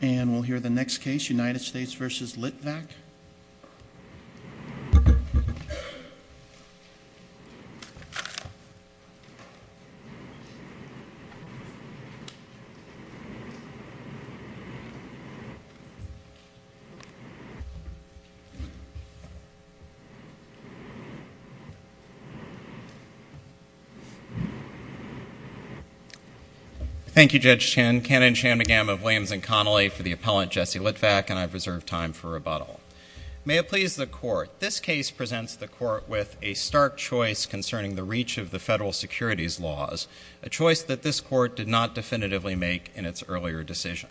And we'll hear the next case, United States v. Litvak. Thank you, Judge Chen, Cannon, Chan, McGammo, Williams, and Connolly for the appellant, Jesse Litvak, and I've reserved time for rebuttal. May it please the Court, this case presents the Court with a stark choice concerning the reach of the federal securities laws, a choice that this Court did not definitively make in its earlier decision.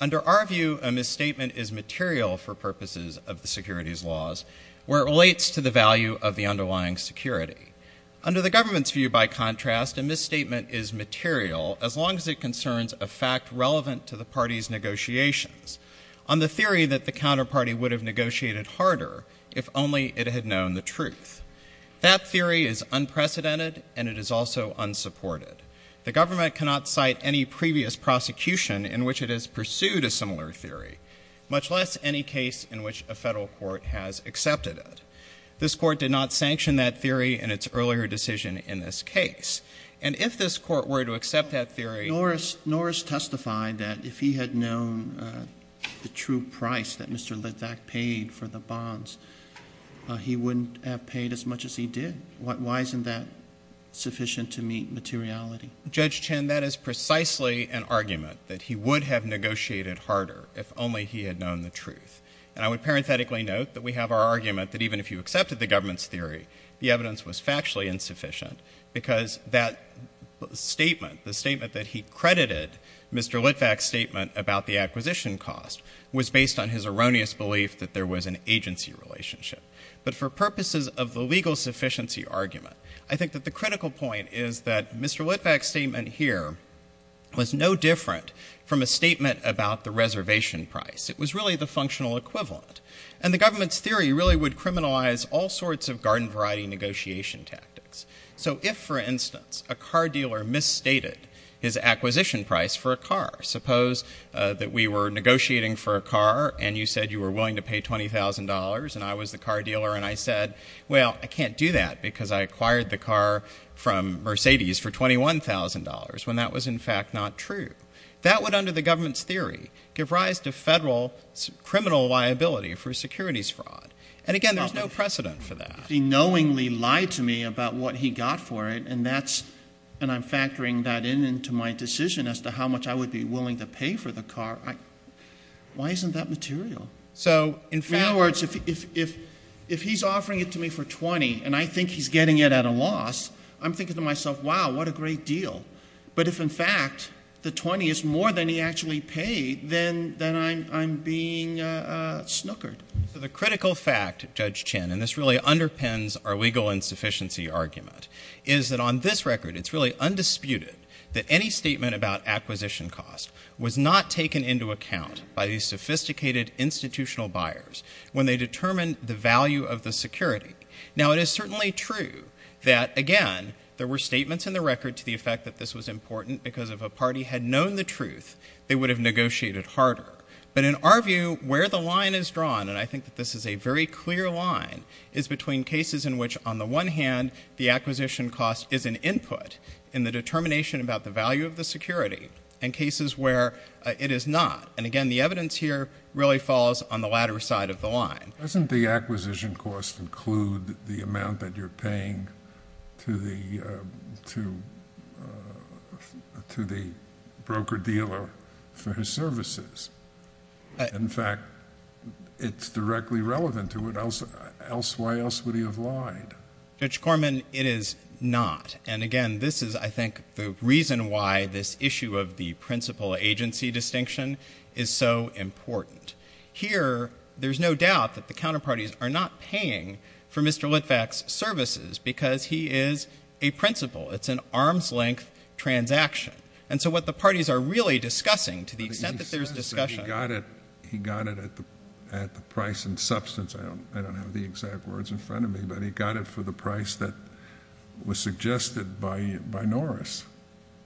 Under our view, a misstatement is material for purposes of the securities laws where it relates to the value of the underlying security. Under the government's view, by contrast, a misstatement is material as long as it concerns a fact relevant to the party's negotiations on the theory that the counterparty would have negotiated harder if only it had known the truth. That theory is unprecedented and it is also unsupported. The government cannot cite any previous prosecution in which it has pursued a similar theory, much less any case in which a federal court has accepted it. This Court did not sanction that theory in its earlier decision in this case. And if this Court were to accept that theory, nor is testifying that if he had known the true price that Mr. Litvak paid for the bonds, he wouldn't have paid as much as he did. Why isn't that sufficient to meet materiality? Judge Chin, that is precisely an argument, that he would have negotiated harder if only he had known the truth. And I would parenthetically note that we have our argument that even if you accepted the that statement, the statement that he credited Mr. Litvak's statement about the acquisition cost was based on his erroneous belief that there was an agency relationship. But for purposes of the legal sufficiency argument, I think that the critical point is that Mr. Litvak's statement here was no different from a statement about the reservation price. It was really the functional equivalent. And the government's theory really would criminalize all sorts of garden variety negotiation tactics. So if, for instance, a car dealer misstated his acquisition price for a car, suppose that we were negotiating for a car and you said you were willing to pay $20,000 and I was the car dealer and I said, well, I can't do that because I acquired the car from Mercedes for $21,000, when that was in fact not true. That would, under the government's theory, give rise to federal criminal liability for securities fraud. And again, there's no precedent for that. If he knowingly lied to me about what he got for it, and that's, and I'm factoring that in into my decision as to how much I would be willing to pay for the car, why isn't that material? In other words, if he's offering it to me for $20,000 and I think he's getting it at a loss, I'm thinking to myself, wow, what a great deal. But if in fact the $20,000 is more than he actually paid, then I'm being snookered. So the critical fact, Judge Chin, and this really underpins our legal insufficiency argument, is that on this record, it's really undisputed that any statement about acquisition cost was not taken into account by these sophisticated institutional buyers when they determined the value of the security. Now it is certainly true that, again, there were statements in the record to the effect that this was important because if a party had known the truth, they would have negotiated harder. But in our view, where the line is drawn, and I think that this is a very clear line, is between cases in which on the one hand, the acquisition cost is an input in the determination about the value of the security, and cases where it is not. And again, the evidence here really falls on the latter side of the line. Doesn't the acquisition cost include the amount that you're paying to the broker-dealer for services? In fact, it's directly relevant to it, else why else would he have lied? Judge Corman, it is not. And again, this is, I think, the reason why this issue of the principal agency distinction is so important. Here, there's no doubt that the counterparties are not paying for Mr. Litvak's services because he is a principal. It's an arm's length transaction. And so, what the parties are really discussing, to the extent that there's discussion. He got it at the price and substance, I don't have the exact words in front of me, but he got it for the price that was suggested by Norris.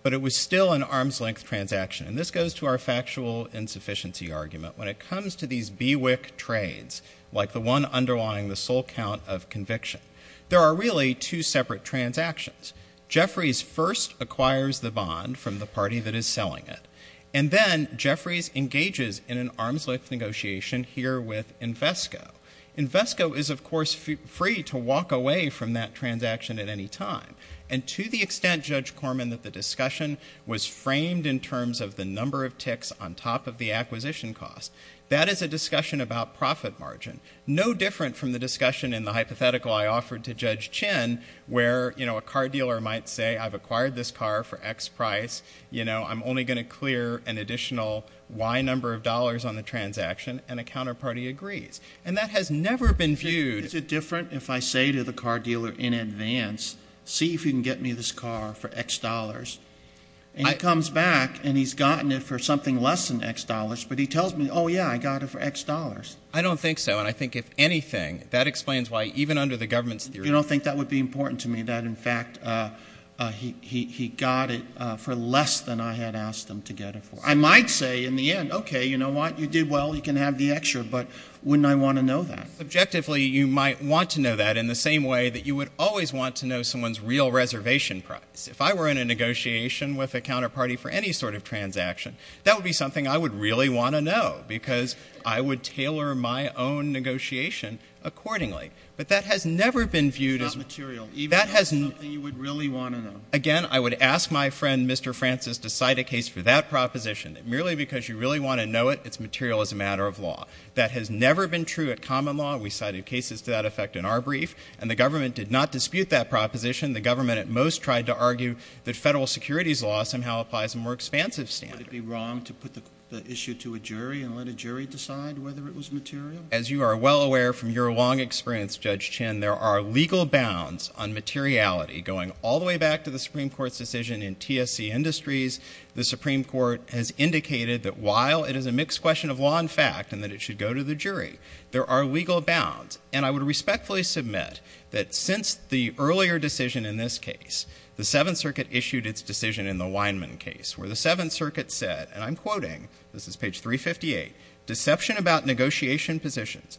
But it was still an arm's length transaction, and this goes to our factual insufficiency argument. When it comes to these BWIC trades, like the one underlying the sole count of conviction, there are really two separate transactions. Jeffries first acquires the bond from the party that is selling it, and then Jeffries engages in an arm's length negotiation here with Invesco. Invesco is, of course, free to walk away from that transaction at any time. And to the extent, Judge Corman, that the discussion was framed in terms of the number of ticks on top of the acquisition cost, that is a discussion about profit margin. No different from the discussion in the hypothetical I offered to Judge Chin, where, you know, a car dealer might say, I've acquired this car for X price, you know, I'm only going to clear an additional Y number of dollars on the transaction, and a counterparty agrees. And that has never been viewed — Is it different if I say to the car dealer in advance, see if you can get me this car for X dollars? And he comes back, and he's gotten it for something less than X dollars, but he tells me, oh, yeah, I got it for X dollars. I don't think so, and I think, if anything, that explains why, even under the government's theory — In fact, he got it for less than I had asked him to get it for. I might say in the end, okay, you know what, you did well, you can have the extra, but wouldn't I want to know that? Subjectively, you might want to know that in the same way that you would always want to know someone's real reservation price. If I were in a negotiation with a counterparty for any sort of transaction, that would be something I would really want to know, because I would tailor my own negotiation accordingly. But that has never been viewed as — It's not material. That has — Even if it's something you would really want to know. Again, I would ask my friend Mr. Francis to cite a case for that proposition, that merely because you really want to know it, it's material as a matter of law. That has never been true at common law. We cited cases to that effect in our brief, and the government did not dispute that proposition. The government at most tried to argue that federal securities law somehow applies a more expansive standard. Would it be wrong to put the issue to a jury and let a jury decide whether it was material? As you are well aware from your long experience, Judge Chin, there are legal bounds on materiality. Going all the way back to the Supreme Court's decision in TSC Industries, the Supreme Court has indicated that while it is a mixed question of law and fact, and that it should go to the jury, there are legal bounds. And I would respectfully submit that since the earlier decision in this case, the Seventh Circuit issued its decision in the Weinman case, where the Seventh Circuit said — and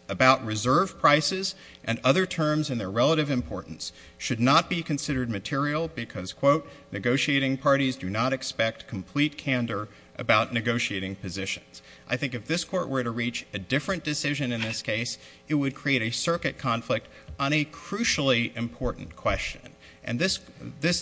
about reserve prices and other terms and their relative importance — should not be considered material because, quote, negotiating parties do not expect complete candor about negotiating positions. I think if this Court were to reach a different decision in this case, it would create a circuit conflict on a crucially important question. And this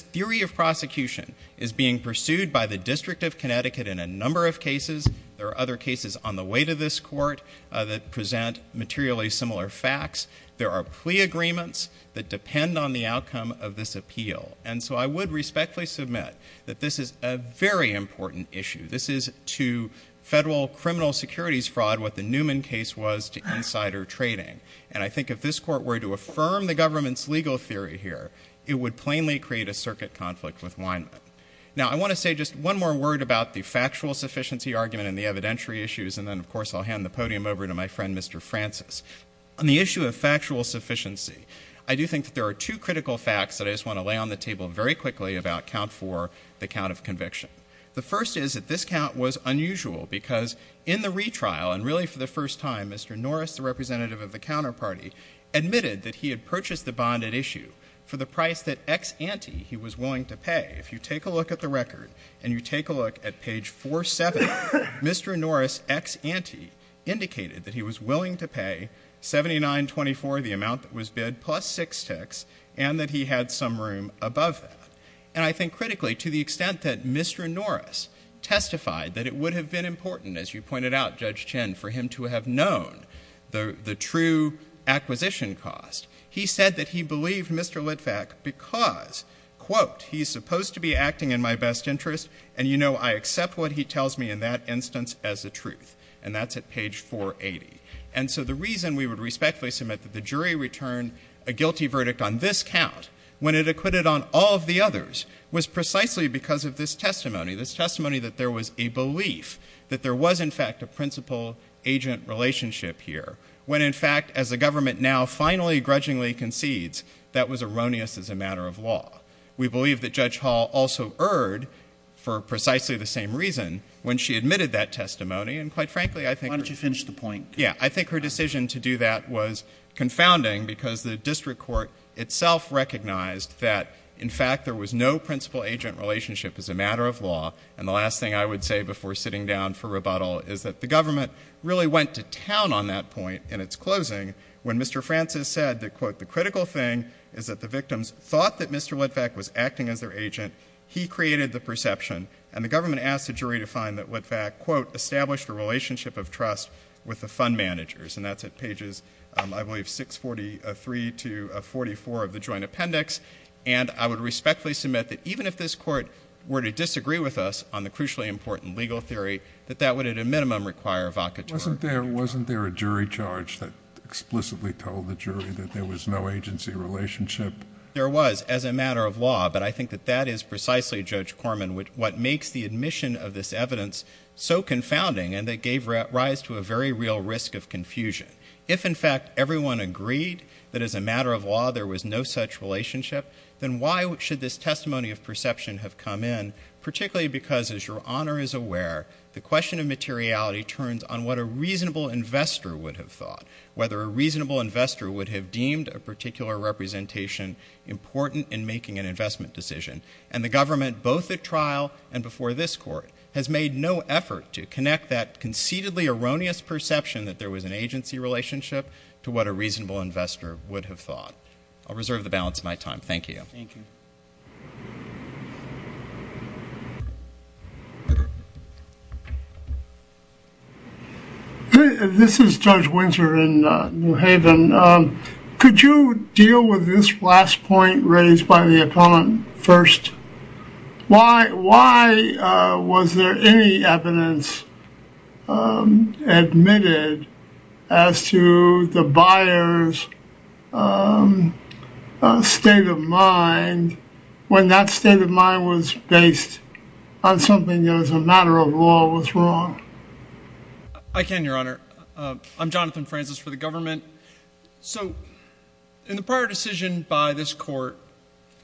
theory of prosecution is being pursued by the District of Connecticut in a number of cases. There are other cases on the way to this Court that present materially similar facts. There are plea agreements that depend on the outcome of this appeal. And so I would respectfully submit that this is a very important issue. This is to federal criminal securities fraud what the Newman case was to insider trading. And I think if this Court were to affirm the government's legal theory here, it would plainly create a circuit conflict with Weinman. Now, I want to say just one more word about the factual sufficiency argument and the evidentiary issues, and then, of course, I'll hand the podium over to my friend, Mr. Francis. On the issue of factual sufficiency, I do think that there are two critical facts that I just want to lay on the table very quickly about count four, the count of conviction. The first is that this count was unusual because in the retrial, and really for the first time, Mr. Norris, the representative of the counterparty, admitted that he had purchased the bond at issue for the price that ex ante he was willing to pay. If you take a look at the record and you take a look at page 47, Mr. Norris, ex ante, indicated that he was willing to pay $79.24, the amount that was bid, plus six ticks, and that he had some room above that. And I think critically, to the extent that Mr. Norris testified that it would have been important, as you pointed out, Judge Chin, for him to have known the true acquisition cost, he said that he believed Mr. Litvak because, quote, he's supposed to be acting in my best interest, and, you know, I accept what he tells me in that instance as the truth. And that's at page 480. And so the reason we would respectfully submit that the jury returned a guilty verdict on this count, when it acquitted on all of the others, was precisely because of this testimony, this testimony that there was a belief that there was, in fact, a principal-agent relationship here, when, in fact, as the government now finally grudgingly concedes that was erroneous as a matter of law. We believe that Judge Hall also erred for precisely the same reason when she admitted that testimony. And quite frankly, I think — Why don't you finish the point? Yeah. I think her decision to do that was confounding because the district court itself recognized that, in fact, there was no principal-agent relationship as a matter of law. And the last thing I would say before sitting down for rebuttal is that the government really went to town on that point in its closing when Mr. Francis said that, quote, the critical thing is that the victims thought that Mr. Litvak was acting as their agent. He created the perception. And the government asked the jury to find that Litvak, quote, established a relationship of trust with the fund managers. And that's at pages, I believe, 643 to 444 of the joint appendix. And I would respectfully submit that even if this court were to disagree with us on the crucially important legal theory, that that would at a minimum require a vocator. Wasn't there a jury charge that explicitly told the jury that there was no agency relationship? There was as a matter of law, but I think that that is precisely, Judge Corman, what makes the admission of this evidence so confounding and that gave rise to a very real risk of confusion. If, in fact, everyone agreed that as a matter of law there was no such relationship, then why should this testimony of perception have come in, particularly because, as Your Honor is aware, the question of materiality turns on what a reasonable investor would have thought, whether a reasonable investor would have deemed a particular representation important in making an investment decision. And the government, both at trial and before this court, has made no effort to connect that conceitedly erroneous perception that there was an agency relationship to what a reasonable investor would have thought. I'll reserve the balance of my time. Thank you. This is Judge Winter in New Haven. Could you deal with this last point raised by the attorney first? Why was there any evidence admitted as to the buyer's state of mind when that state of mind was based on something that, as a matter of law, was wrong? I can, Your Honor. I'm Jonathan Francis for the government. So in the prior decision by this court,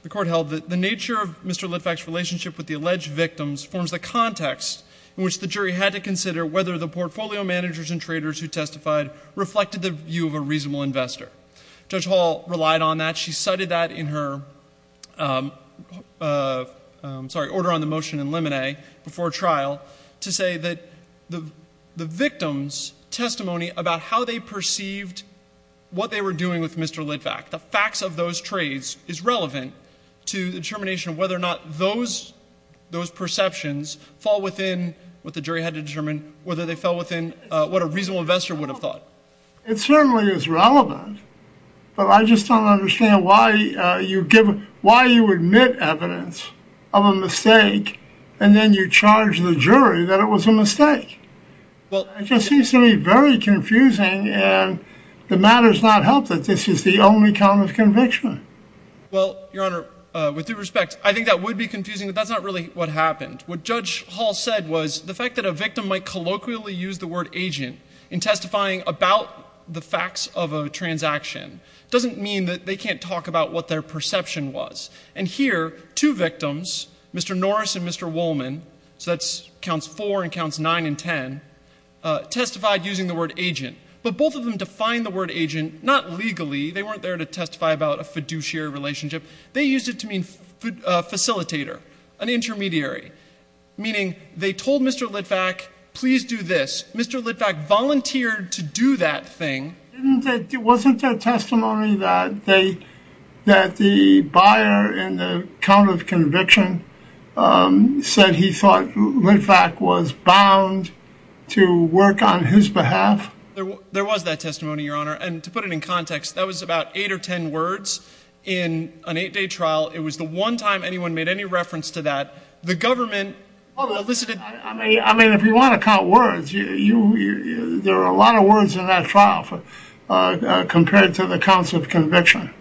the court held that the nature of Mr. Litvack's relationship with the alleged victims forms the context in which the jury had to consider whether the portfolio managers and traders who testified reflected the view of a reasonable investor. Judge Hall relied on that. She cited that in her order on the motion in Lemonet before trial to say that the victims' testimony about how they perceived what they were doing with Mr. Litvack, the facts of those trades, is relevant to the determination of whether or not those perceptions fall within what the jury had to determine, whether they fell within what a reasonable investor would have thought. It certainly is relevant, but I just don't understand why you admit evidence of a mistake and then you charge the jury that it was a mistake. It just seems to me very confusing, and the matter's not helped that this is the only common conviction. Well, Your Honor, with due respect, I think that would be confusing, but that's not really what happened. What Judge Hall said was the fact that a victim might colloquially use the word agent in testifying about the facts of a transaction doesn't mean that they can't talk about what their perception was. And here, two victims, Mr. Norris and Mr. Woolman, so that counts four and counts nine and ten, testified using the word agent, but both of them defined the word agent not legally. They weren't there to testify about a fiduciary relationship. They used it to mean facilitator, an intermediary, meaning they told Mr. Litvack, please do this. Mr. Litvack volunteered to do that thing. Wasn't there testimony that the buyer in the count of conviction said he thought Litvack was bound to work on his behalf? There was that testimony, Your Honor, and to put it in context, that was about eight or ten words in an eight-day trial. It was the one time anyone made any reference to that. The government elicited... I mean, if you want to count words, there are a lot of words in that trial compared to the counts of conviction.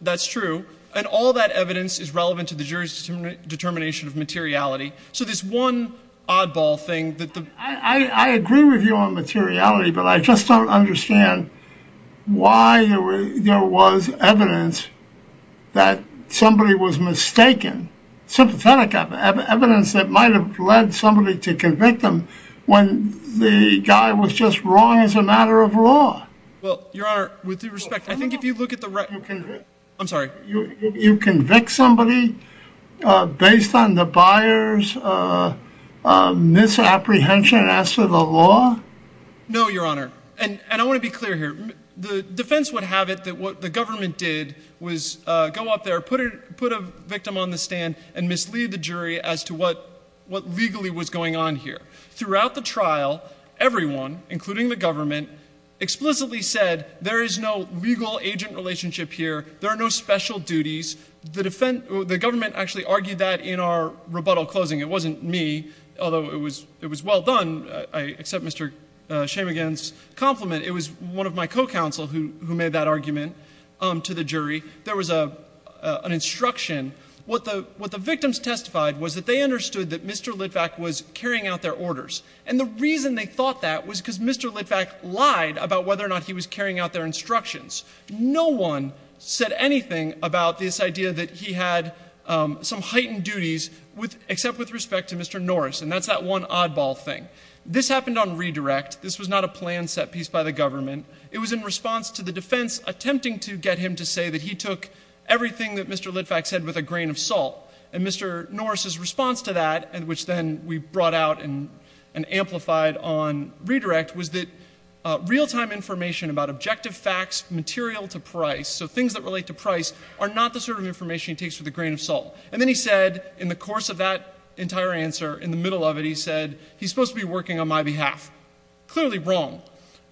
That's true. And all that evidence is relevant to the jury's determination of materiality. So this one oddball thing that... I agree with you on materiality, but I just don't understand why there was evidence that somebody was mistaken, sympathetic evidence that might have led somebody to convict him when the guy was just wrong as a matter of law. Well, Your Honor, with due respect, I think if you look at the... I'm sorry. You convict somebody based on the buyer's misapprehension as to the law? No, Your Honor, and I want to be clear here. The defense would have it that what the government did was go up there, put a victim on the stand, and mislead the jury as to what legally was going on here. Throughout the trial, everyone, including the government, explicitly said there is no legal agent relationship here, there are no special duties. The government actually argued that in our rebuttal closing. It wasn't me, although it was well done, I accept Mr. Shamegain's compliment. It was one of my co-counsel who made that argument to the jury. There was an instruction. What the victims testified was that they understood that Mr. Litvak was carrying out their orders, and the reason they thought that was because Mr. Litvak lied about whether or not he was carrying out their instructions. No one said anything about this idea that he had some heightened duties, except with respect to Mr. Norris, and that's that one oddball thing. This happened on redirect. This was not a plan set piece by the government. It was in response to the defense attempting to get him to say that he took everything that Mr. Litvak said with a grain of salt, and Mr. Norris' response to that, which then we brought out and amplified on redirect, was that real-time information about objective facts, material to price, so things that relate to price, are not the sort of information he takes with a grain of salt. And then he said, in the course of that entire answer, in the middle of it, he said, he's supposed to be working on my behalf. Clearly wrong.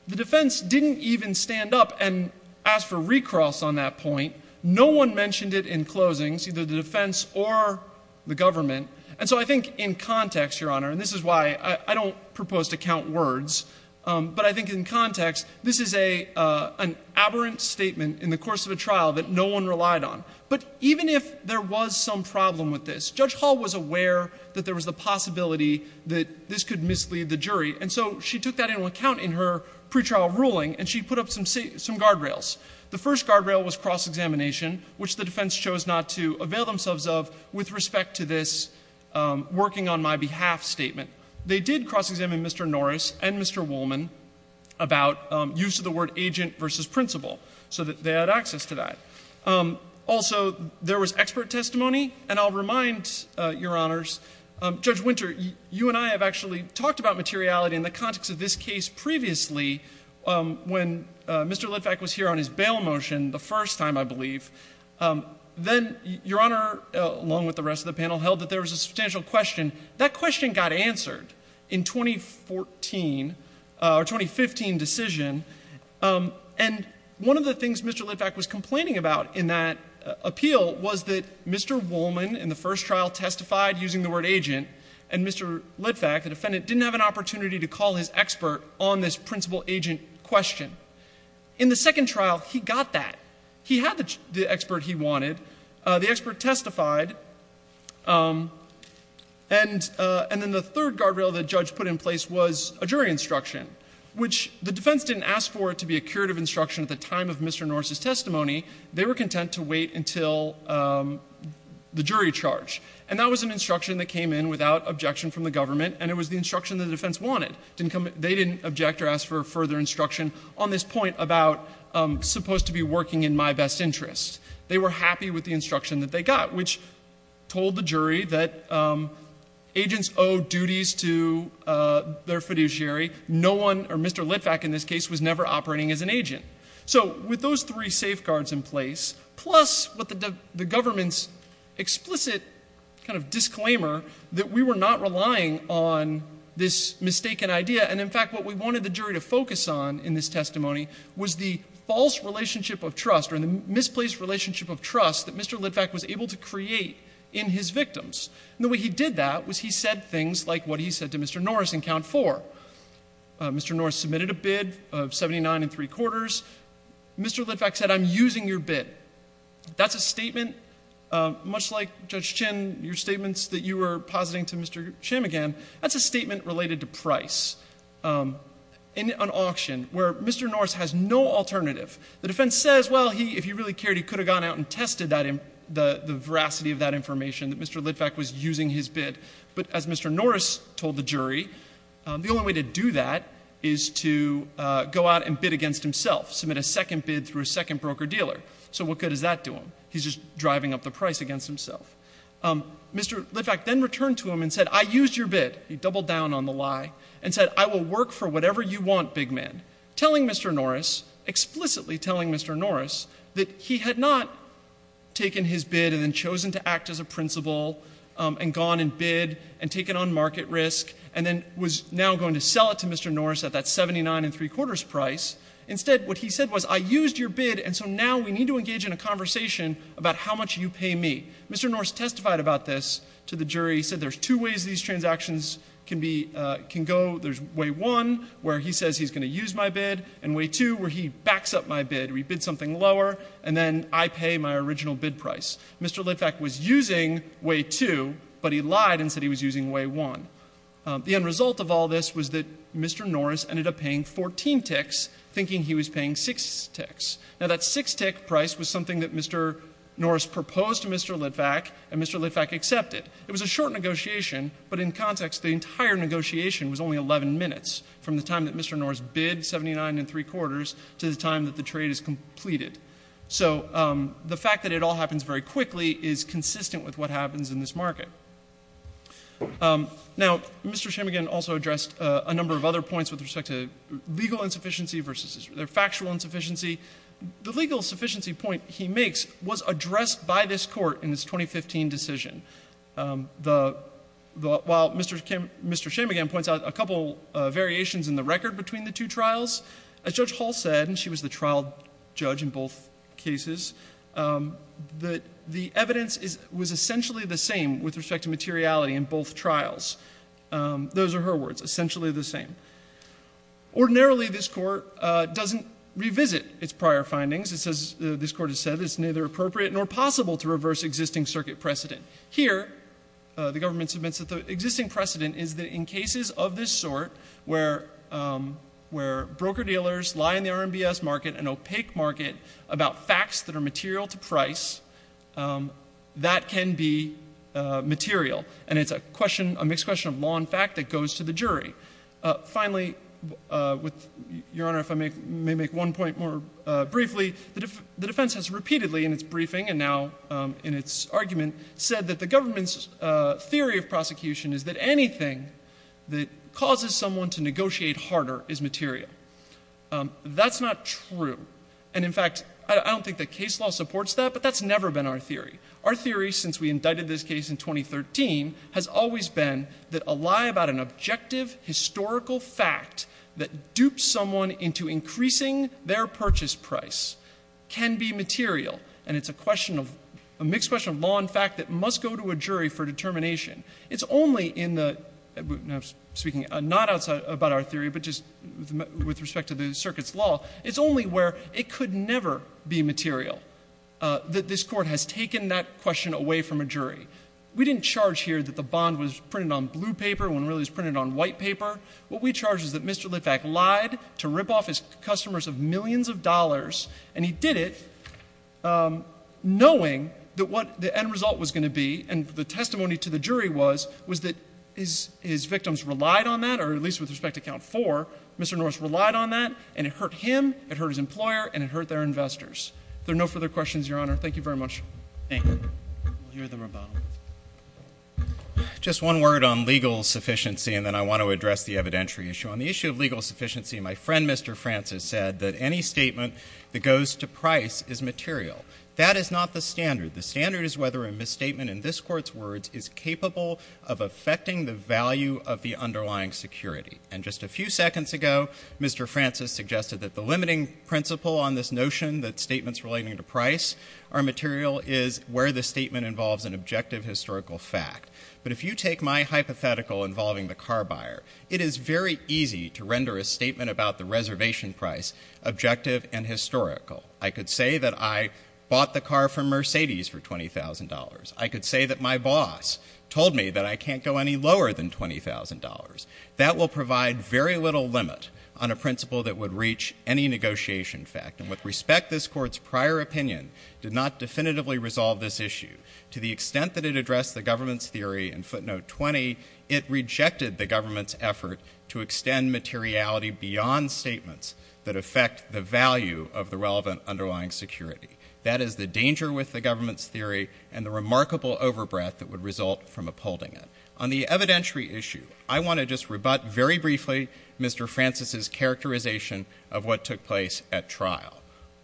The defense didn't even stand up and ask for recross on that point. No one mentioned it in closings, either the defense or the government. And so I think in context, Your Honor, and this is why I don't propose to count words, but I think in context, this is an aberrant statement in the course of a trial that no one relied on. But even if there was some problem with this, Judge Hall was aware that there was the possibility that this could mislead the jury. And so she took that into account in her pretrial ruling, and she put up some guardrails. The first guardrail was cross-examination, which the defense chose not to avail themselves of with respect to this working on my behalf statement. They did cross-examine Mr. Norris and Mr. Woolman about use of the word agent versus principal so that they had access to that. Also, there was expert testimony. And I'll remind Your Honors, Judge Winter, you and I have actually talked about materiality in the context of this case previously when Mr. Litvack was here on his bail motion the first time, I believe. Then Your Honor, along with the rest of the panel, held that there was a substantial question. That question got answered in 2014 or 2015 decision. And one of the things Mr. Litvack was complaining about in that appeal was that Mr. Woolman in the first trial testified using the word agent, and Mr. Litvack, the defendant, didn't have an opportunity to call his expert on this principal-agent question. In the second trial, he got that. He had the expert he wanted. The expert testified, and then the third guardrail the judge put in place was a jury instruction, which the defense didn't ask for it to be a curative instruction at the time of Mr. Norse's testimony. They were content to wait until the jury charge. And that was an instruction that came in without objection from the government, and it was the instruction that the defense wanted. They didn't object or ask for further instruction on this point about supposed to be working in my best interest. They were happy with the instruction that they got, which told the jury that agents owe duties to their fiduciary. No one, or Mr. Litvack in this case, was never operating as an agent. So with those three safeguards in place, plus what the government's explicit kind of disclaimer that we were not relying on this mistaken idea, and in fact what we wanted the jury to focus on in this testimony was the false relationship of trust or the misplaced relationship of trust that Mr. Litvack was able to create in his victims. And the way he did that was he said things like what he said to Mr. Norse in count four. Mr. Norse submitted a bid of $79.75. Mr. Litvack said, I'm using your bid. That's a statement, much like, Judge Chin, your statements that you were positing to Mr. Chamigan, that's a statement related to price. In an auction where Mr. Norse has no alternative, the defense says, well, he, if he really cared, he could have gone out and tested the veracity of that information that Mr. Litvack was using his bid. But as Mr. Norse told the jury, the only way to do that is to go out and bid against himself, submit a second bid through a second broker-dealer. So what good does that do him? He's just driving up the price against himself. Mr. Litvack then returned to him and said, I used your bid. He doubled down on the lie and said, I will work for whatever you want, big man, telling Mr. Norse, explicitly telling Mr. Norse, that he had not taken his bid and then chosen to act as a principal and gone and bid and taken on market risk and then was now going to sell it to Mr. Norse at that $79.75 price. Instead, what he said was, I used your bid, and so now we need to engage in a conversation about how much you pay me. Mr. Norse testified about this to the jury, said there's two ways these transactions can go. There's way one, where he says he's going to use my bid, and way two, where he backs up my bid, or he bids something lower, and then I pay my original bid price. Mr. Litvack was using way two, but he lied and said he was using way one. The end result of all this was that Mr. Norse ended up paying 14 ticks, thinking he was paying six ticks. Now, that six-tick price was something that Mr. Norse proposed to Mr. Litvack, and Mr. Litvack accepted. It was a short negotiation, but in context, the entire negotiation was only 11 minutes from the time that Mr. Norse bid $79.75 to the time that the trade is completed. So the fact that it all happens very quickly is consistent with what happens in this market. Now, Mr. Shimmigan also addressed a number of other points with respect to legal insufficiency versus factual insufficiency. The legal insufficiency point he makes was addressed by this Court in its 2015 decision. While Mr. Shimmigan points out a couple variations in the record between the two trials, as Judge Hall said, and she was the trial judge in both cases, the evidence was essentially the same with respect to materiality in both trials. Those are her words, essentially the same. Ordinarily, this Court doesn't revisit its prior findings. This Court has said it's neither appropriate nor possible to reverse existing circuit precedent. Here, the government submits that the existing precedent is that in cases of this sort, where broker-dealers lie in the RMBS market, an opaque market about facts that are material to price, that can be material, and it's a question, a mixed question of law and fact that goes to the jury. Finally, Your Honor, if I may make one point more briefly, the defense has repeatedly in its briefing and now in its argument said that the government's theory of prosecution is that anything that causes someone to negotiate harder is material. That's not true. And, in fact, I don't think that case law supports that, but that's never been our theory. Our theory, since we indicted this case in 2013, has always been that a lie about an objective historical fact that duped someone into increasing their purchase price can be material, and it's a question of, a mixed question of law and fact that must go to a jury for determination. It's only in the, speaking not about our theory, but just with respect to the circuit's law, it's only where it could never be material that this court has taken that question away from a jury. We didn't charge here that the bond was printed on blue paper when it really was printed on white paper. What we charge is that Mr. Litvak lied to rip off his customers of millions of dollars, and he did it knowing that what the end result was going to be and the testimony to the jury was, was that his victims relied on that, or at least with respect to count four, Mr. Litvak lied to him, it hurt his employer, and it hurt their investors. There are no further questions, Your Honor. Thank you very much. Thank you. We'll hear the rebuttal. Just one word on legal sufficiency, and then I want to address the evidentiary issue. On the issue of legal sufficiency, my friend Mr. Francis said that any statement that goes to price is material. That is not the standard. The standard is whether a misstatement in this court's words is capable of affecting the value of the underlying security, and just a few seconds ago, Mr. Francis suggested that the limiting principle on this notion that statements relating to price are material is where the statement involves an objective historical fact. But if you take my hypothetical involving the car buyer, it is very easy to render a statement about the reservation price objective and historical. I could say that I bought the car from Mercedes for $20,000. I could say that my boss told me that I can't go any lower than $20,000. That will provide very little limit on a principle that would reach any negotiation fact, and with respect, this court's prior opinion did not definitively resolve this issue. To the extent that it addressed the government's theory in footnote 20, it rejected the government's effort to extend materiality beyond statements that affect the value of the relevant underlying security. That is the danger with the government's theory and the remarkable overbreath that would result from upholding it. On the evidentiary issue, I want to just rebut very briefly Mr. Francis's characterization of what took place at trial.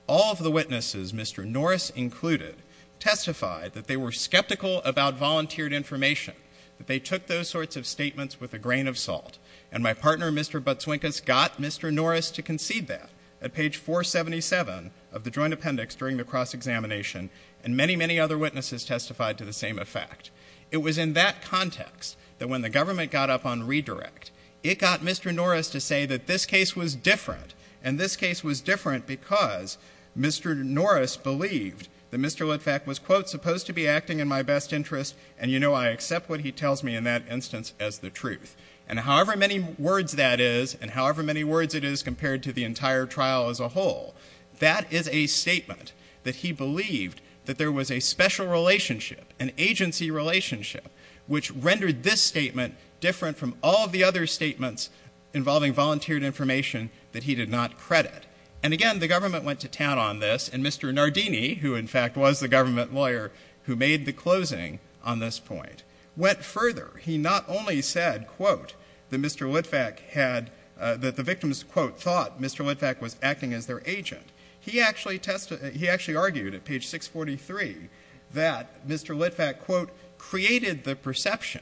All of the witnesses, Mr. Norris included, testified that they were skeptical about volunteered information, that they took those sorts of statements with a grain of salt. And my partner, Mr. Butzwinkas, got Mr. Norris to concede that at page 477 of the joint appendix during the cross-examination, and many, many other witnesses testified to the same effect. It was in that context that when the government got up on redirect, it got Mr. Norris to say that this case was different. And this case was different because Mr. Norris believed that Mr. Litvak was, quote, supposed to be acting in my best interest, and you know I accept what he tells me in that instance as the truth. And however many words that is, and however many words it is compared to the entire trial as a whole, that is a statement that he believed that there was a special relationship, an agency relationship, which rendered this statement different from all of the other statements involving volunteered information that he did not credit. And again, the government went to town on this, and Mr. Nardini, who in fact was the government lawyer who made the closing on this point, went further. He not only said, quote, that Mr. Litvak had, that the victims, quote, thought Mr. Litvak was acting as their agent. He actually tested, he actually argued at page 643 that Mr. Litvak, quote, created the perception,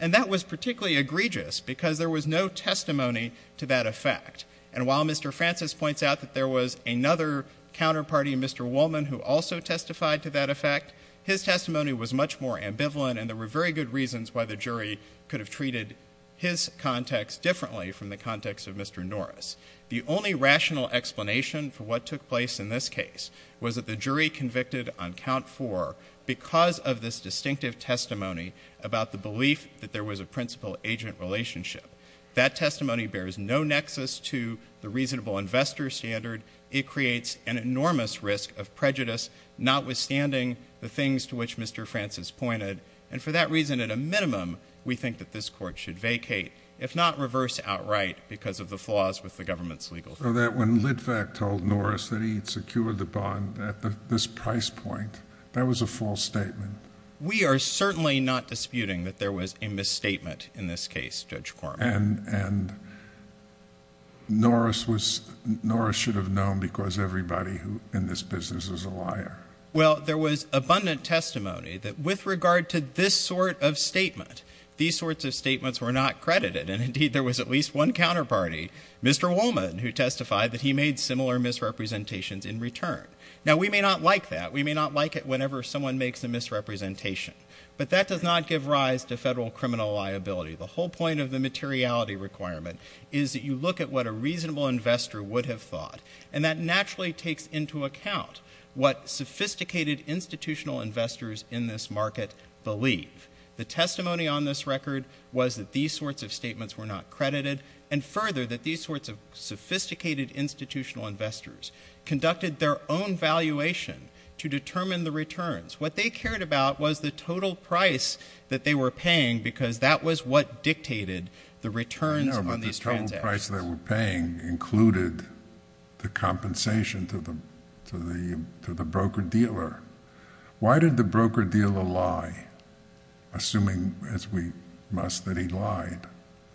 and that was particularly egregious because there was no testimony to that effect. And while Mr. Francis points out that there was another counterparty, Mr. Woolman, who also testified to that effect, his testimony was much more ambivalent, and there were very good reasons why the jury could have treated his context differently from the context of Mr. Norris. The only rational explanation for what took place in this case was that the jury convicted on count four because of this distinctive testimony about the belief that there was a principal-agent relationship. That testimony bears no nexus to the reasonable investor standard. It creates an enormous risk of prejudice, notwithstanding the things to which Mr. Francis pointed. And for that reason, at a minimum, we think that this court should vacate, if not reverse outright, because of the flaws with the government's legal system. So that when Litvak told Norris that he had secured the bond at this price point, that was a false statement? We are certainly not disputing that there was a misstatement in this case, Judge Corman. And Norris was, Norris should have known because everybody in this business is a liar. Well, there was abundant testimony that with regard to this sort of statement, these sorts of statements were not credited. And indeed, there was at least one counterparty, Mr. Woolman, who testified that he made similar misrepresentations in return. Now, we may not like that. We may not like it whenever someone makes a misrepresentation. But that does not give rise to federal criminal liability. The whole point of the materiality requirement is that you look at what a reasonable investor would have thought, and that naturally takes into account what sophisticated institutional investors in this market believe. The testimony on this record was that these sorts of statements were not credited, and further, that these sorts of sophisticated institutional investors conducted their own valuation to determine the returns. What they cared about was the total price that they were paying, because that was what dictated the returns on these transactions. No, but the total price they were paying included the compensation to the broker-dealer. Why did the broker-dealer lie, assuming, as we must, that he lied?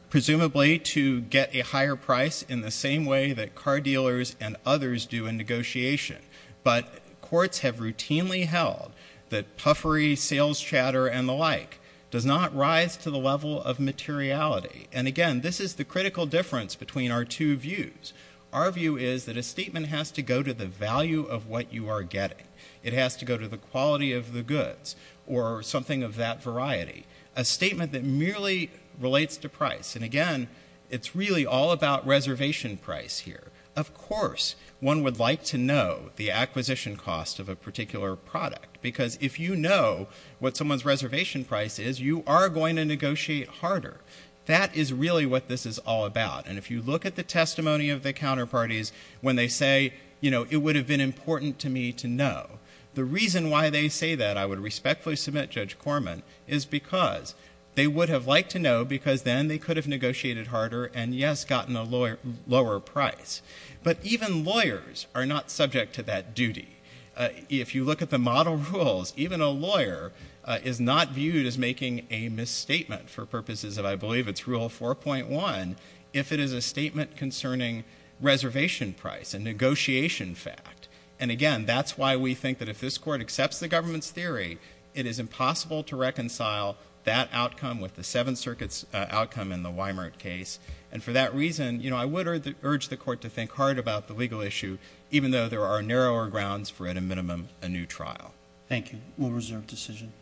Presumably to get a higher price in the same way that car dealers and others do in negotiation. But courts have routinely held that puffery, sales chatter, and the like does not rise to the level of materiality. And again, this is the critical difference between our two views. Our view is that a statement has to go to the value of what you are getting. It has to go to the quality of the goods, or something of that variety. A statement that merely relates to price, and again, it's really all about reservation price here. Of course, one would like to know the acquisition cost of a particular product, because if you know what someone's reservation price is, you are going to negotiate harder. That is really what this is all about, and if you look at the testimony of the counterparties when they say, you know, it would have been important to me to know. The reason why they say that, I would respectfully submit Judge Corman, is because they would have liked to know, because then they could have negotiated harder, and yes, gotten a lower price. But even lawyers are not subject to that duty. If you look at the model rules, even a lawyer is not viewed as making a misstatement for purposes of, I believe it's rule 4.1, if it is a statement concerning reservation price, a negotiation fact. And again, that's why we think that if this Court accepts the government's theory, it is impossible to reconcile that outcome with the Seventh Circuit's outcome in the Weimart case. And for that reason, you know, I would urge the Court to think hard about the legal issue, even though there are narrower grounds for, at a minimum, a new trial. Thank you. We'll reserve decision.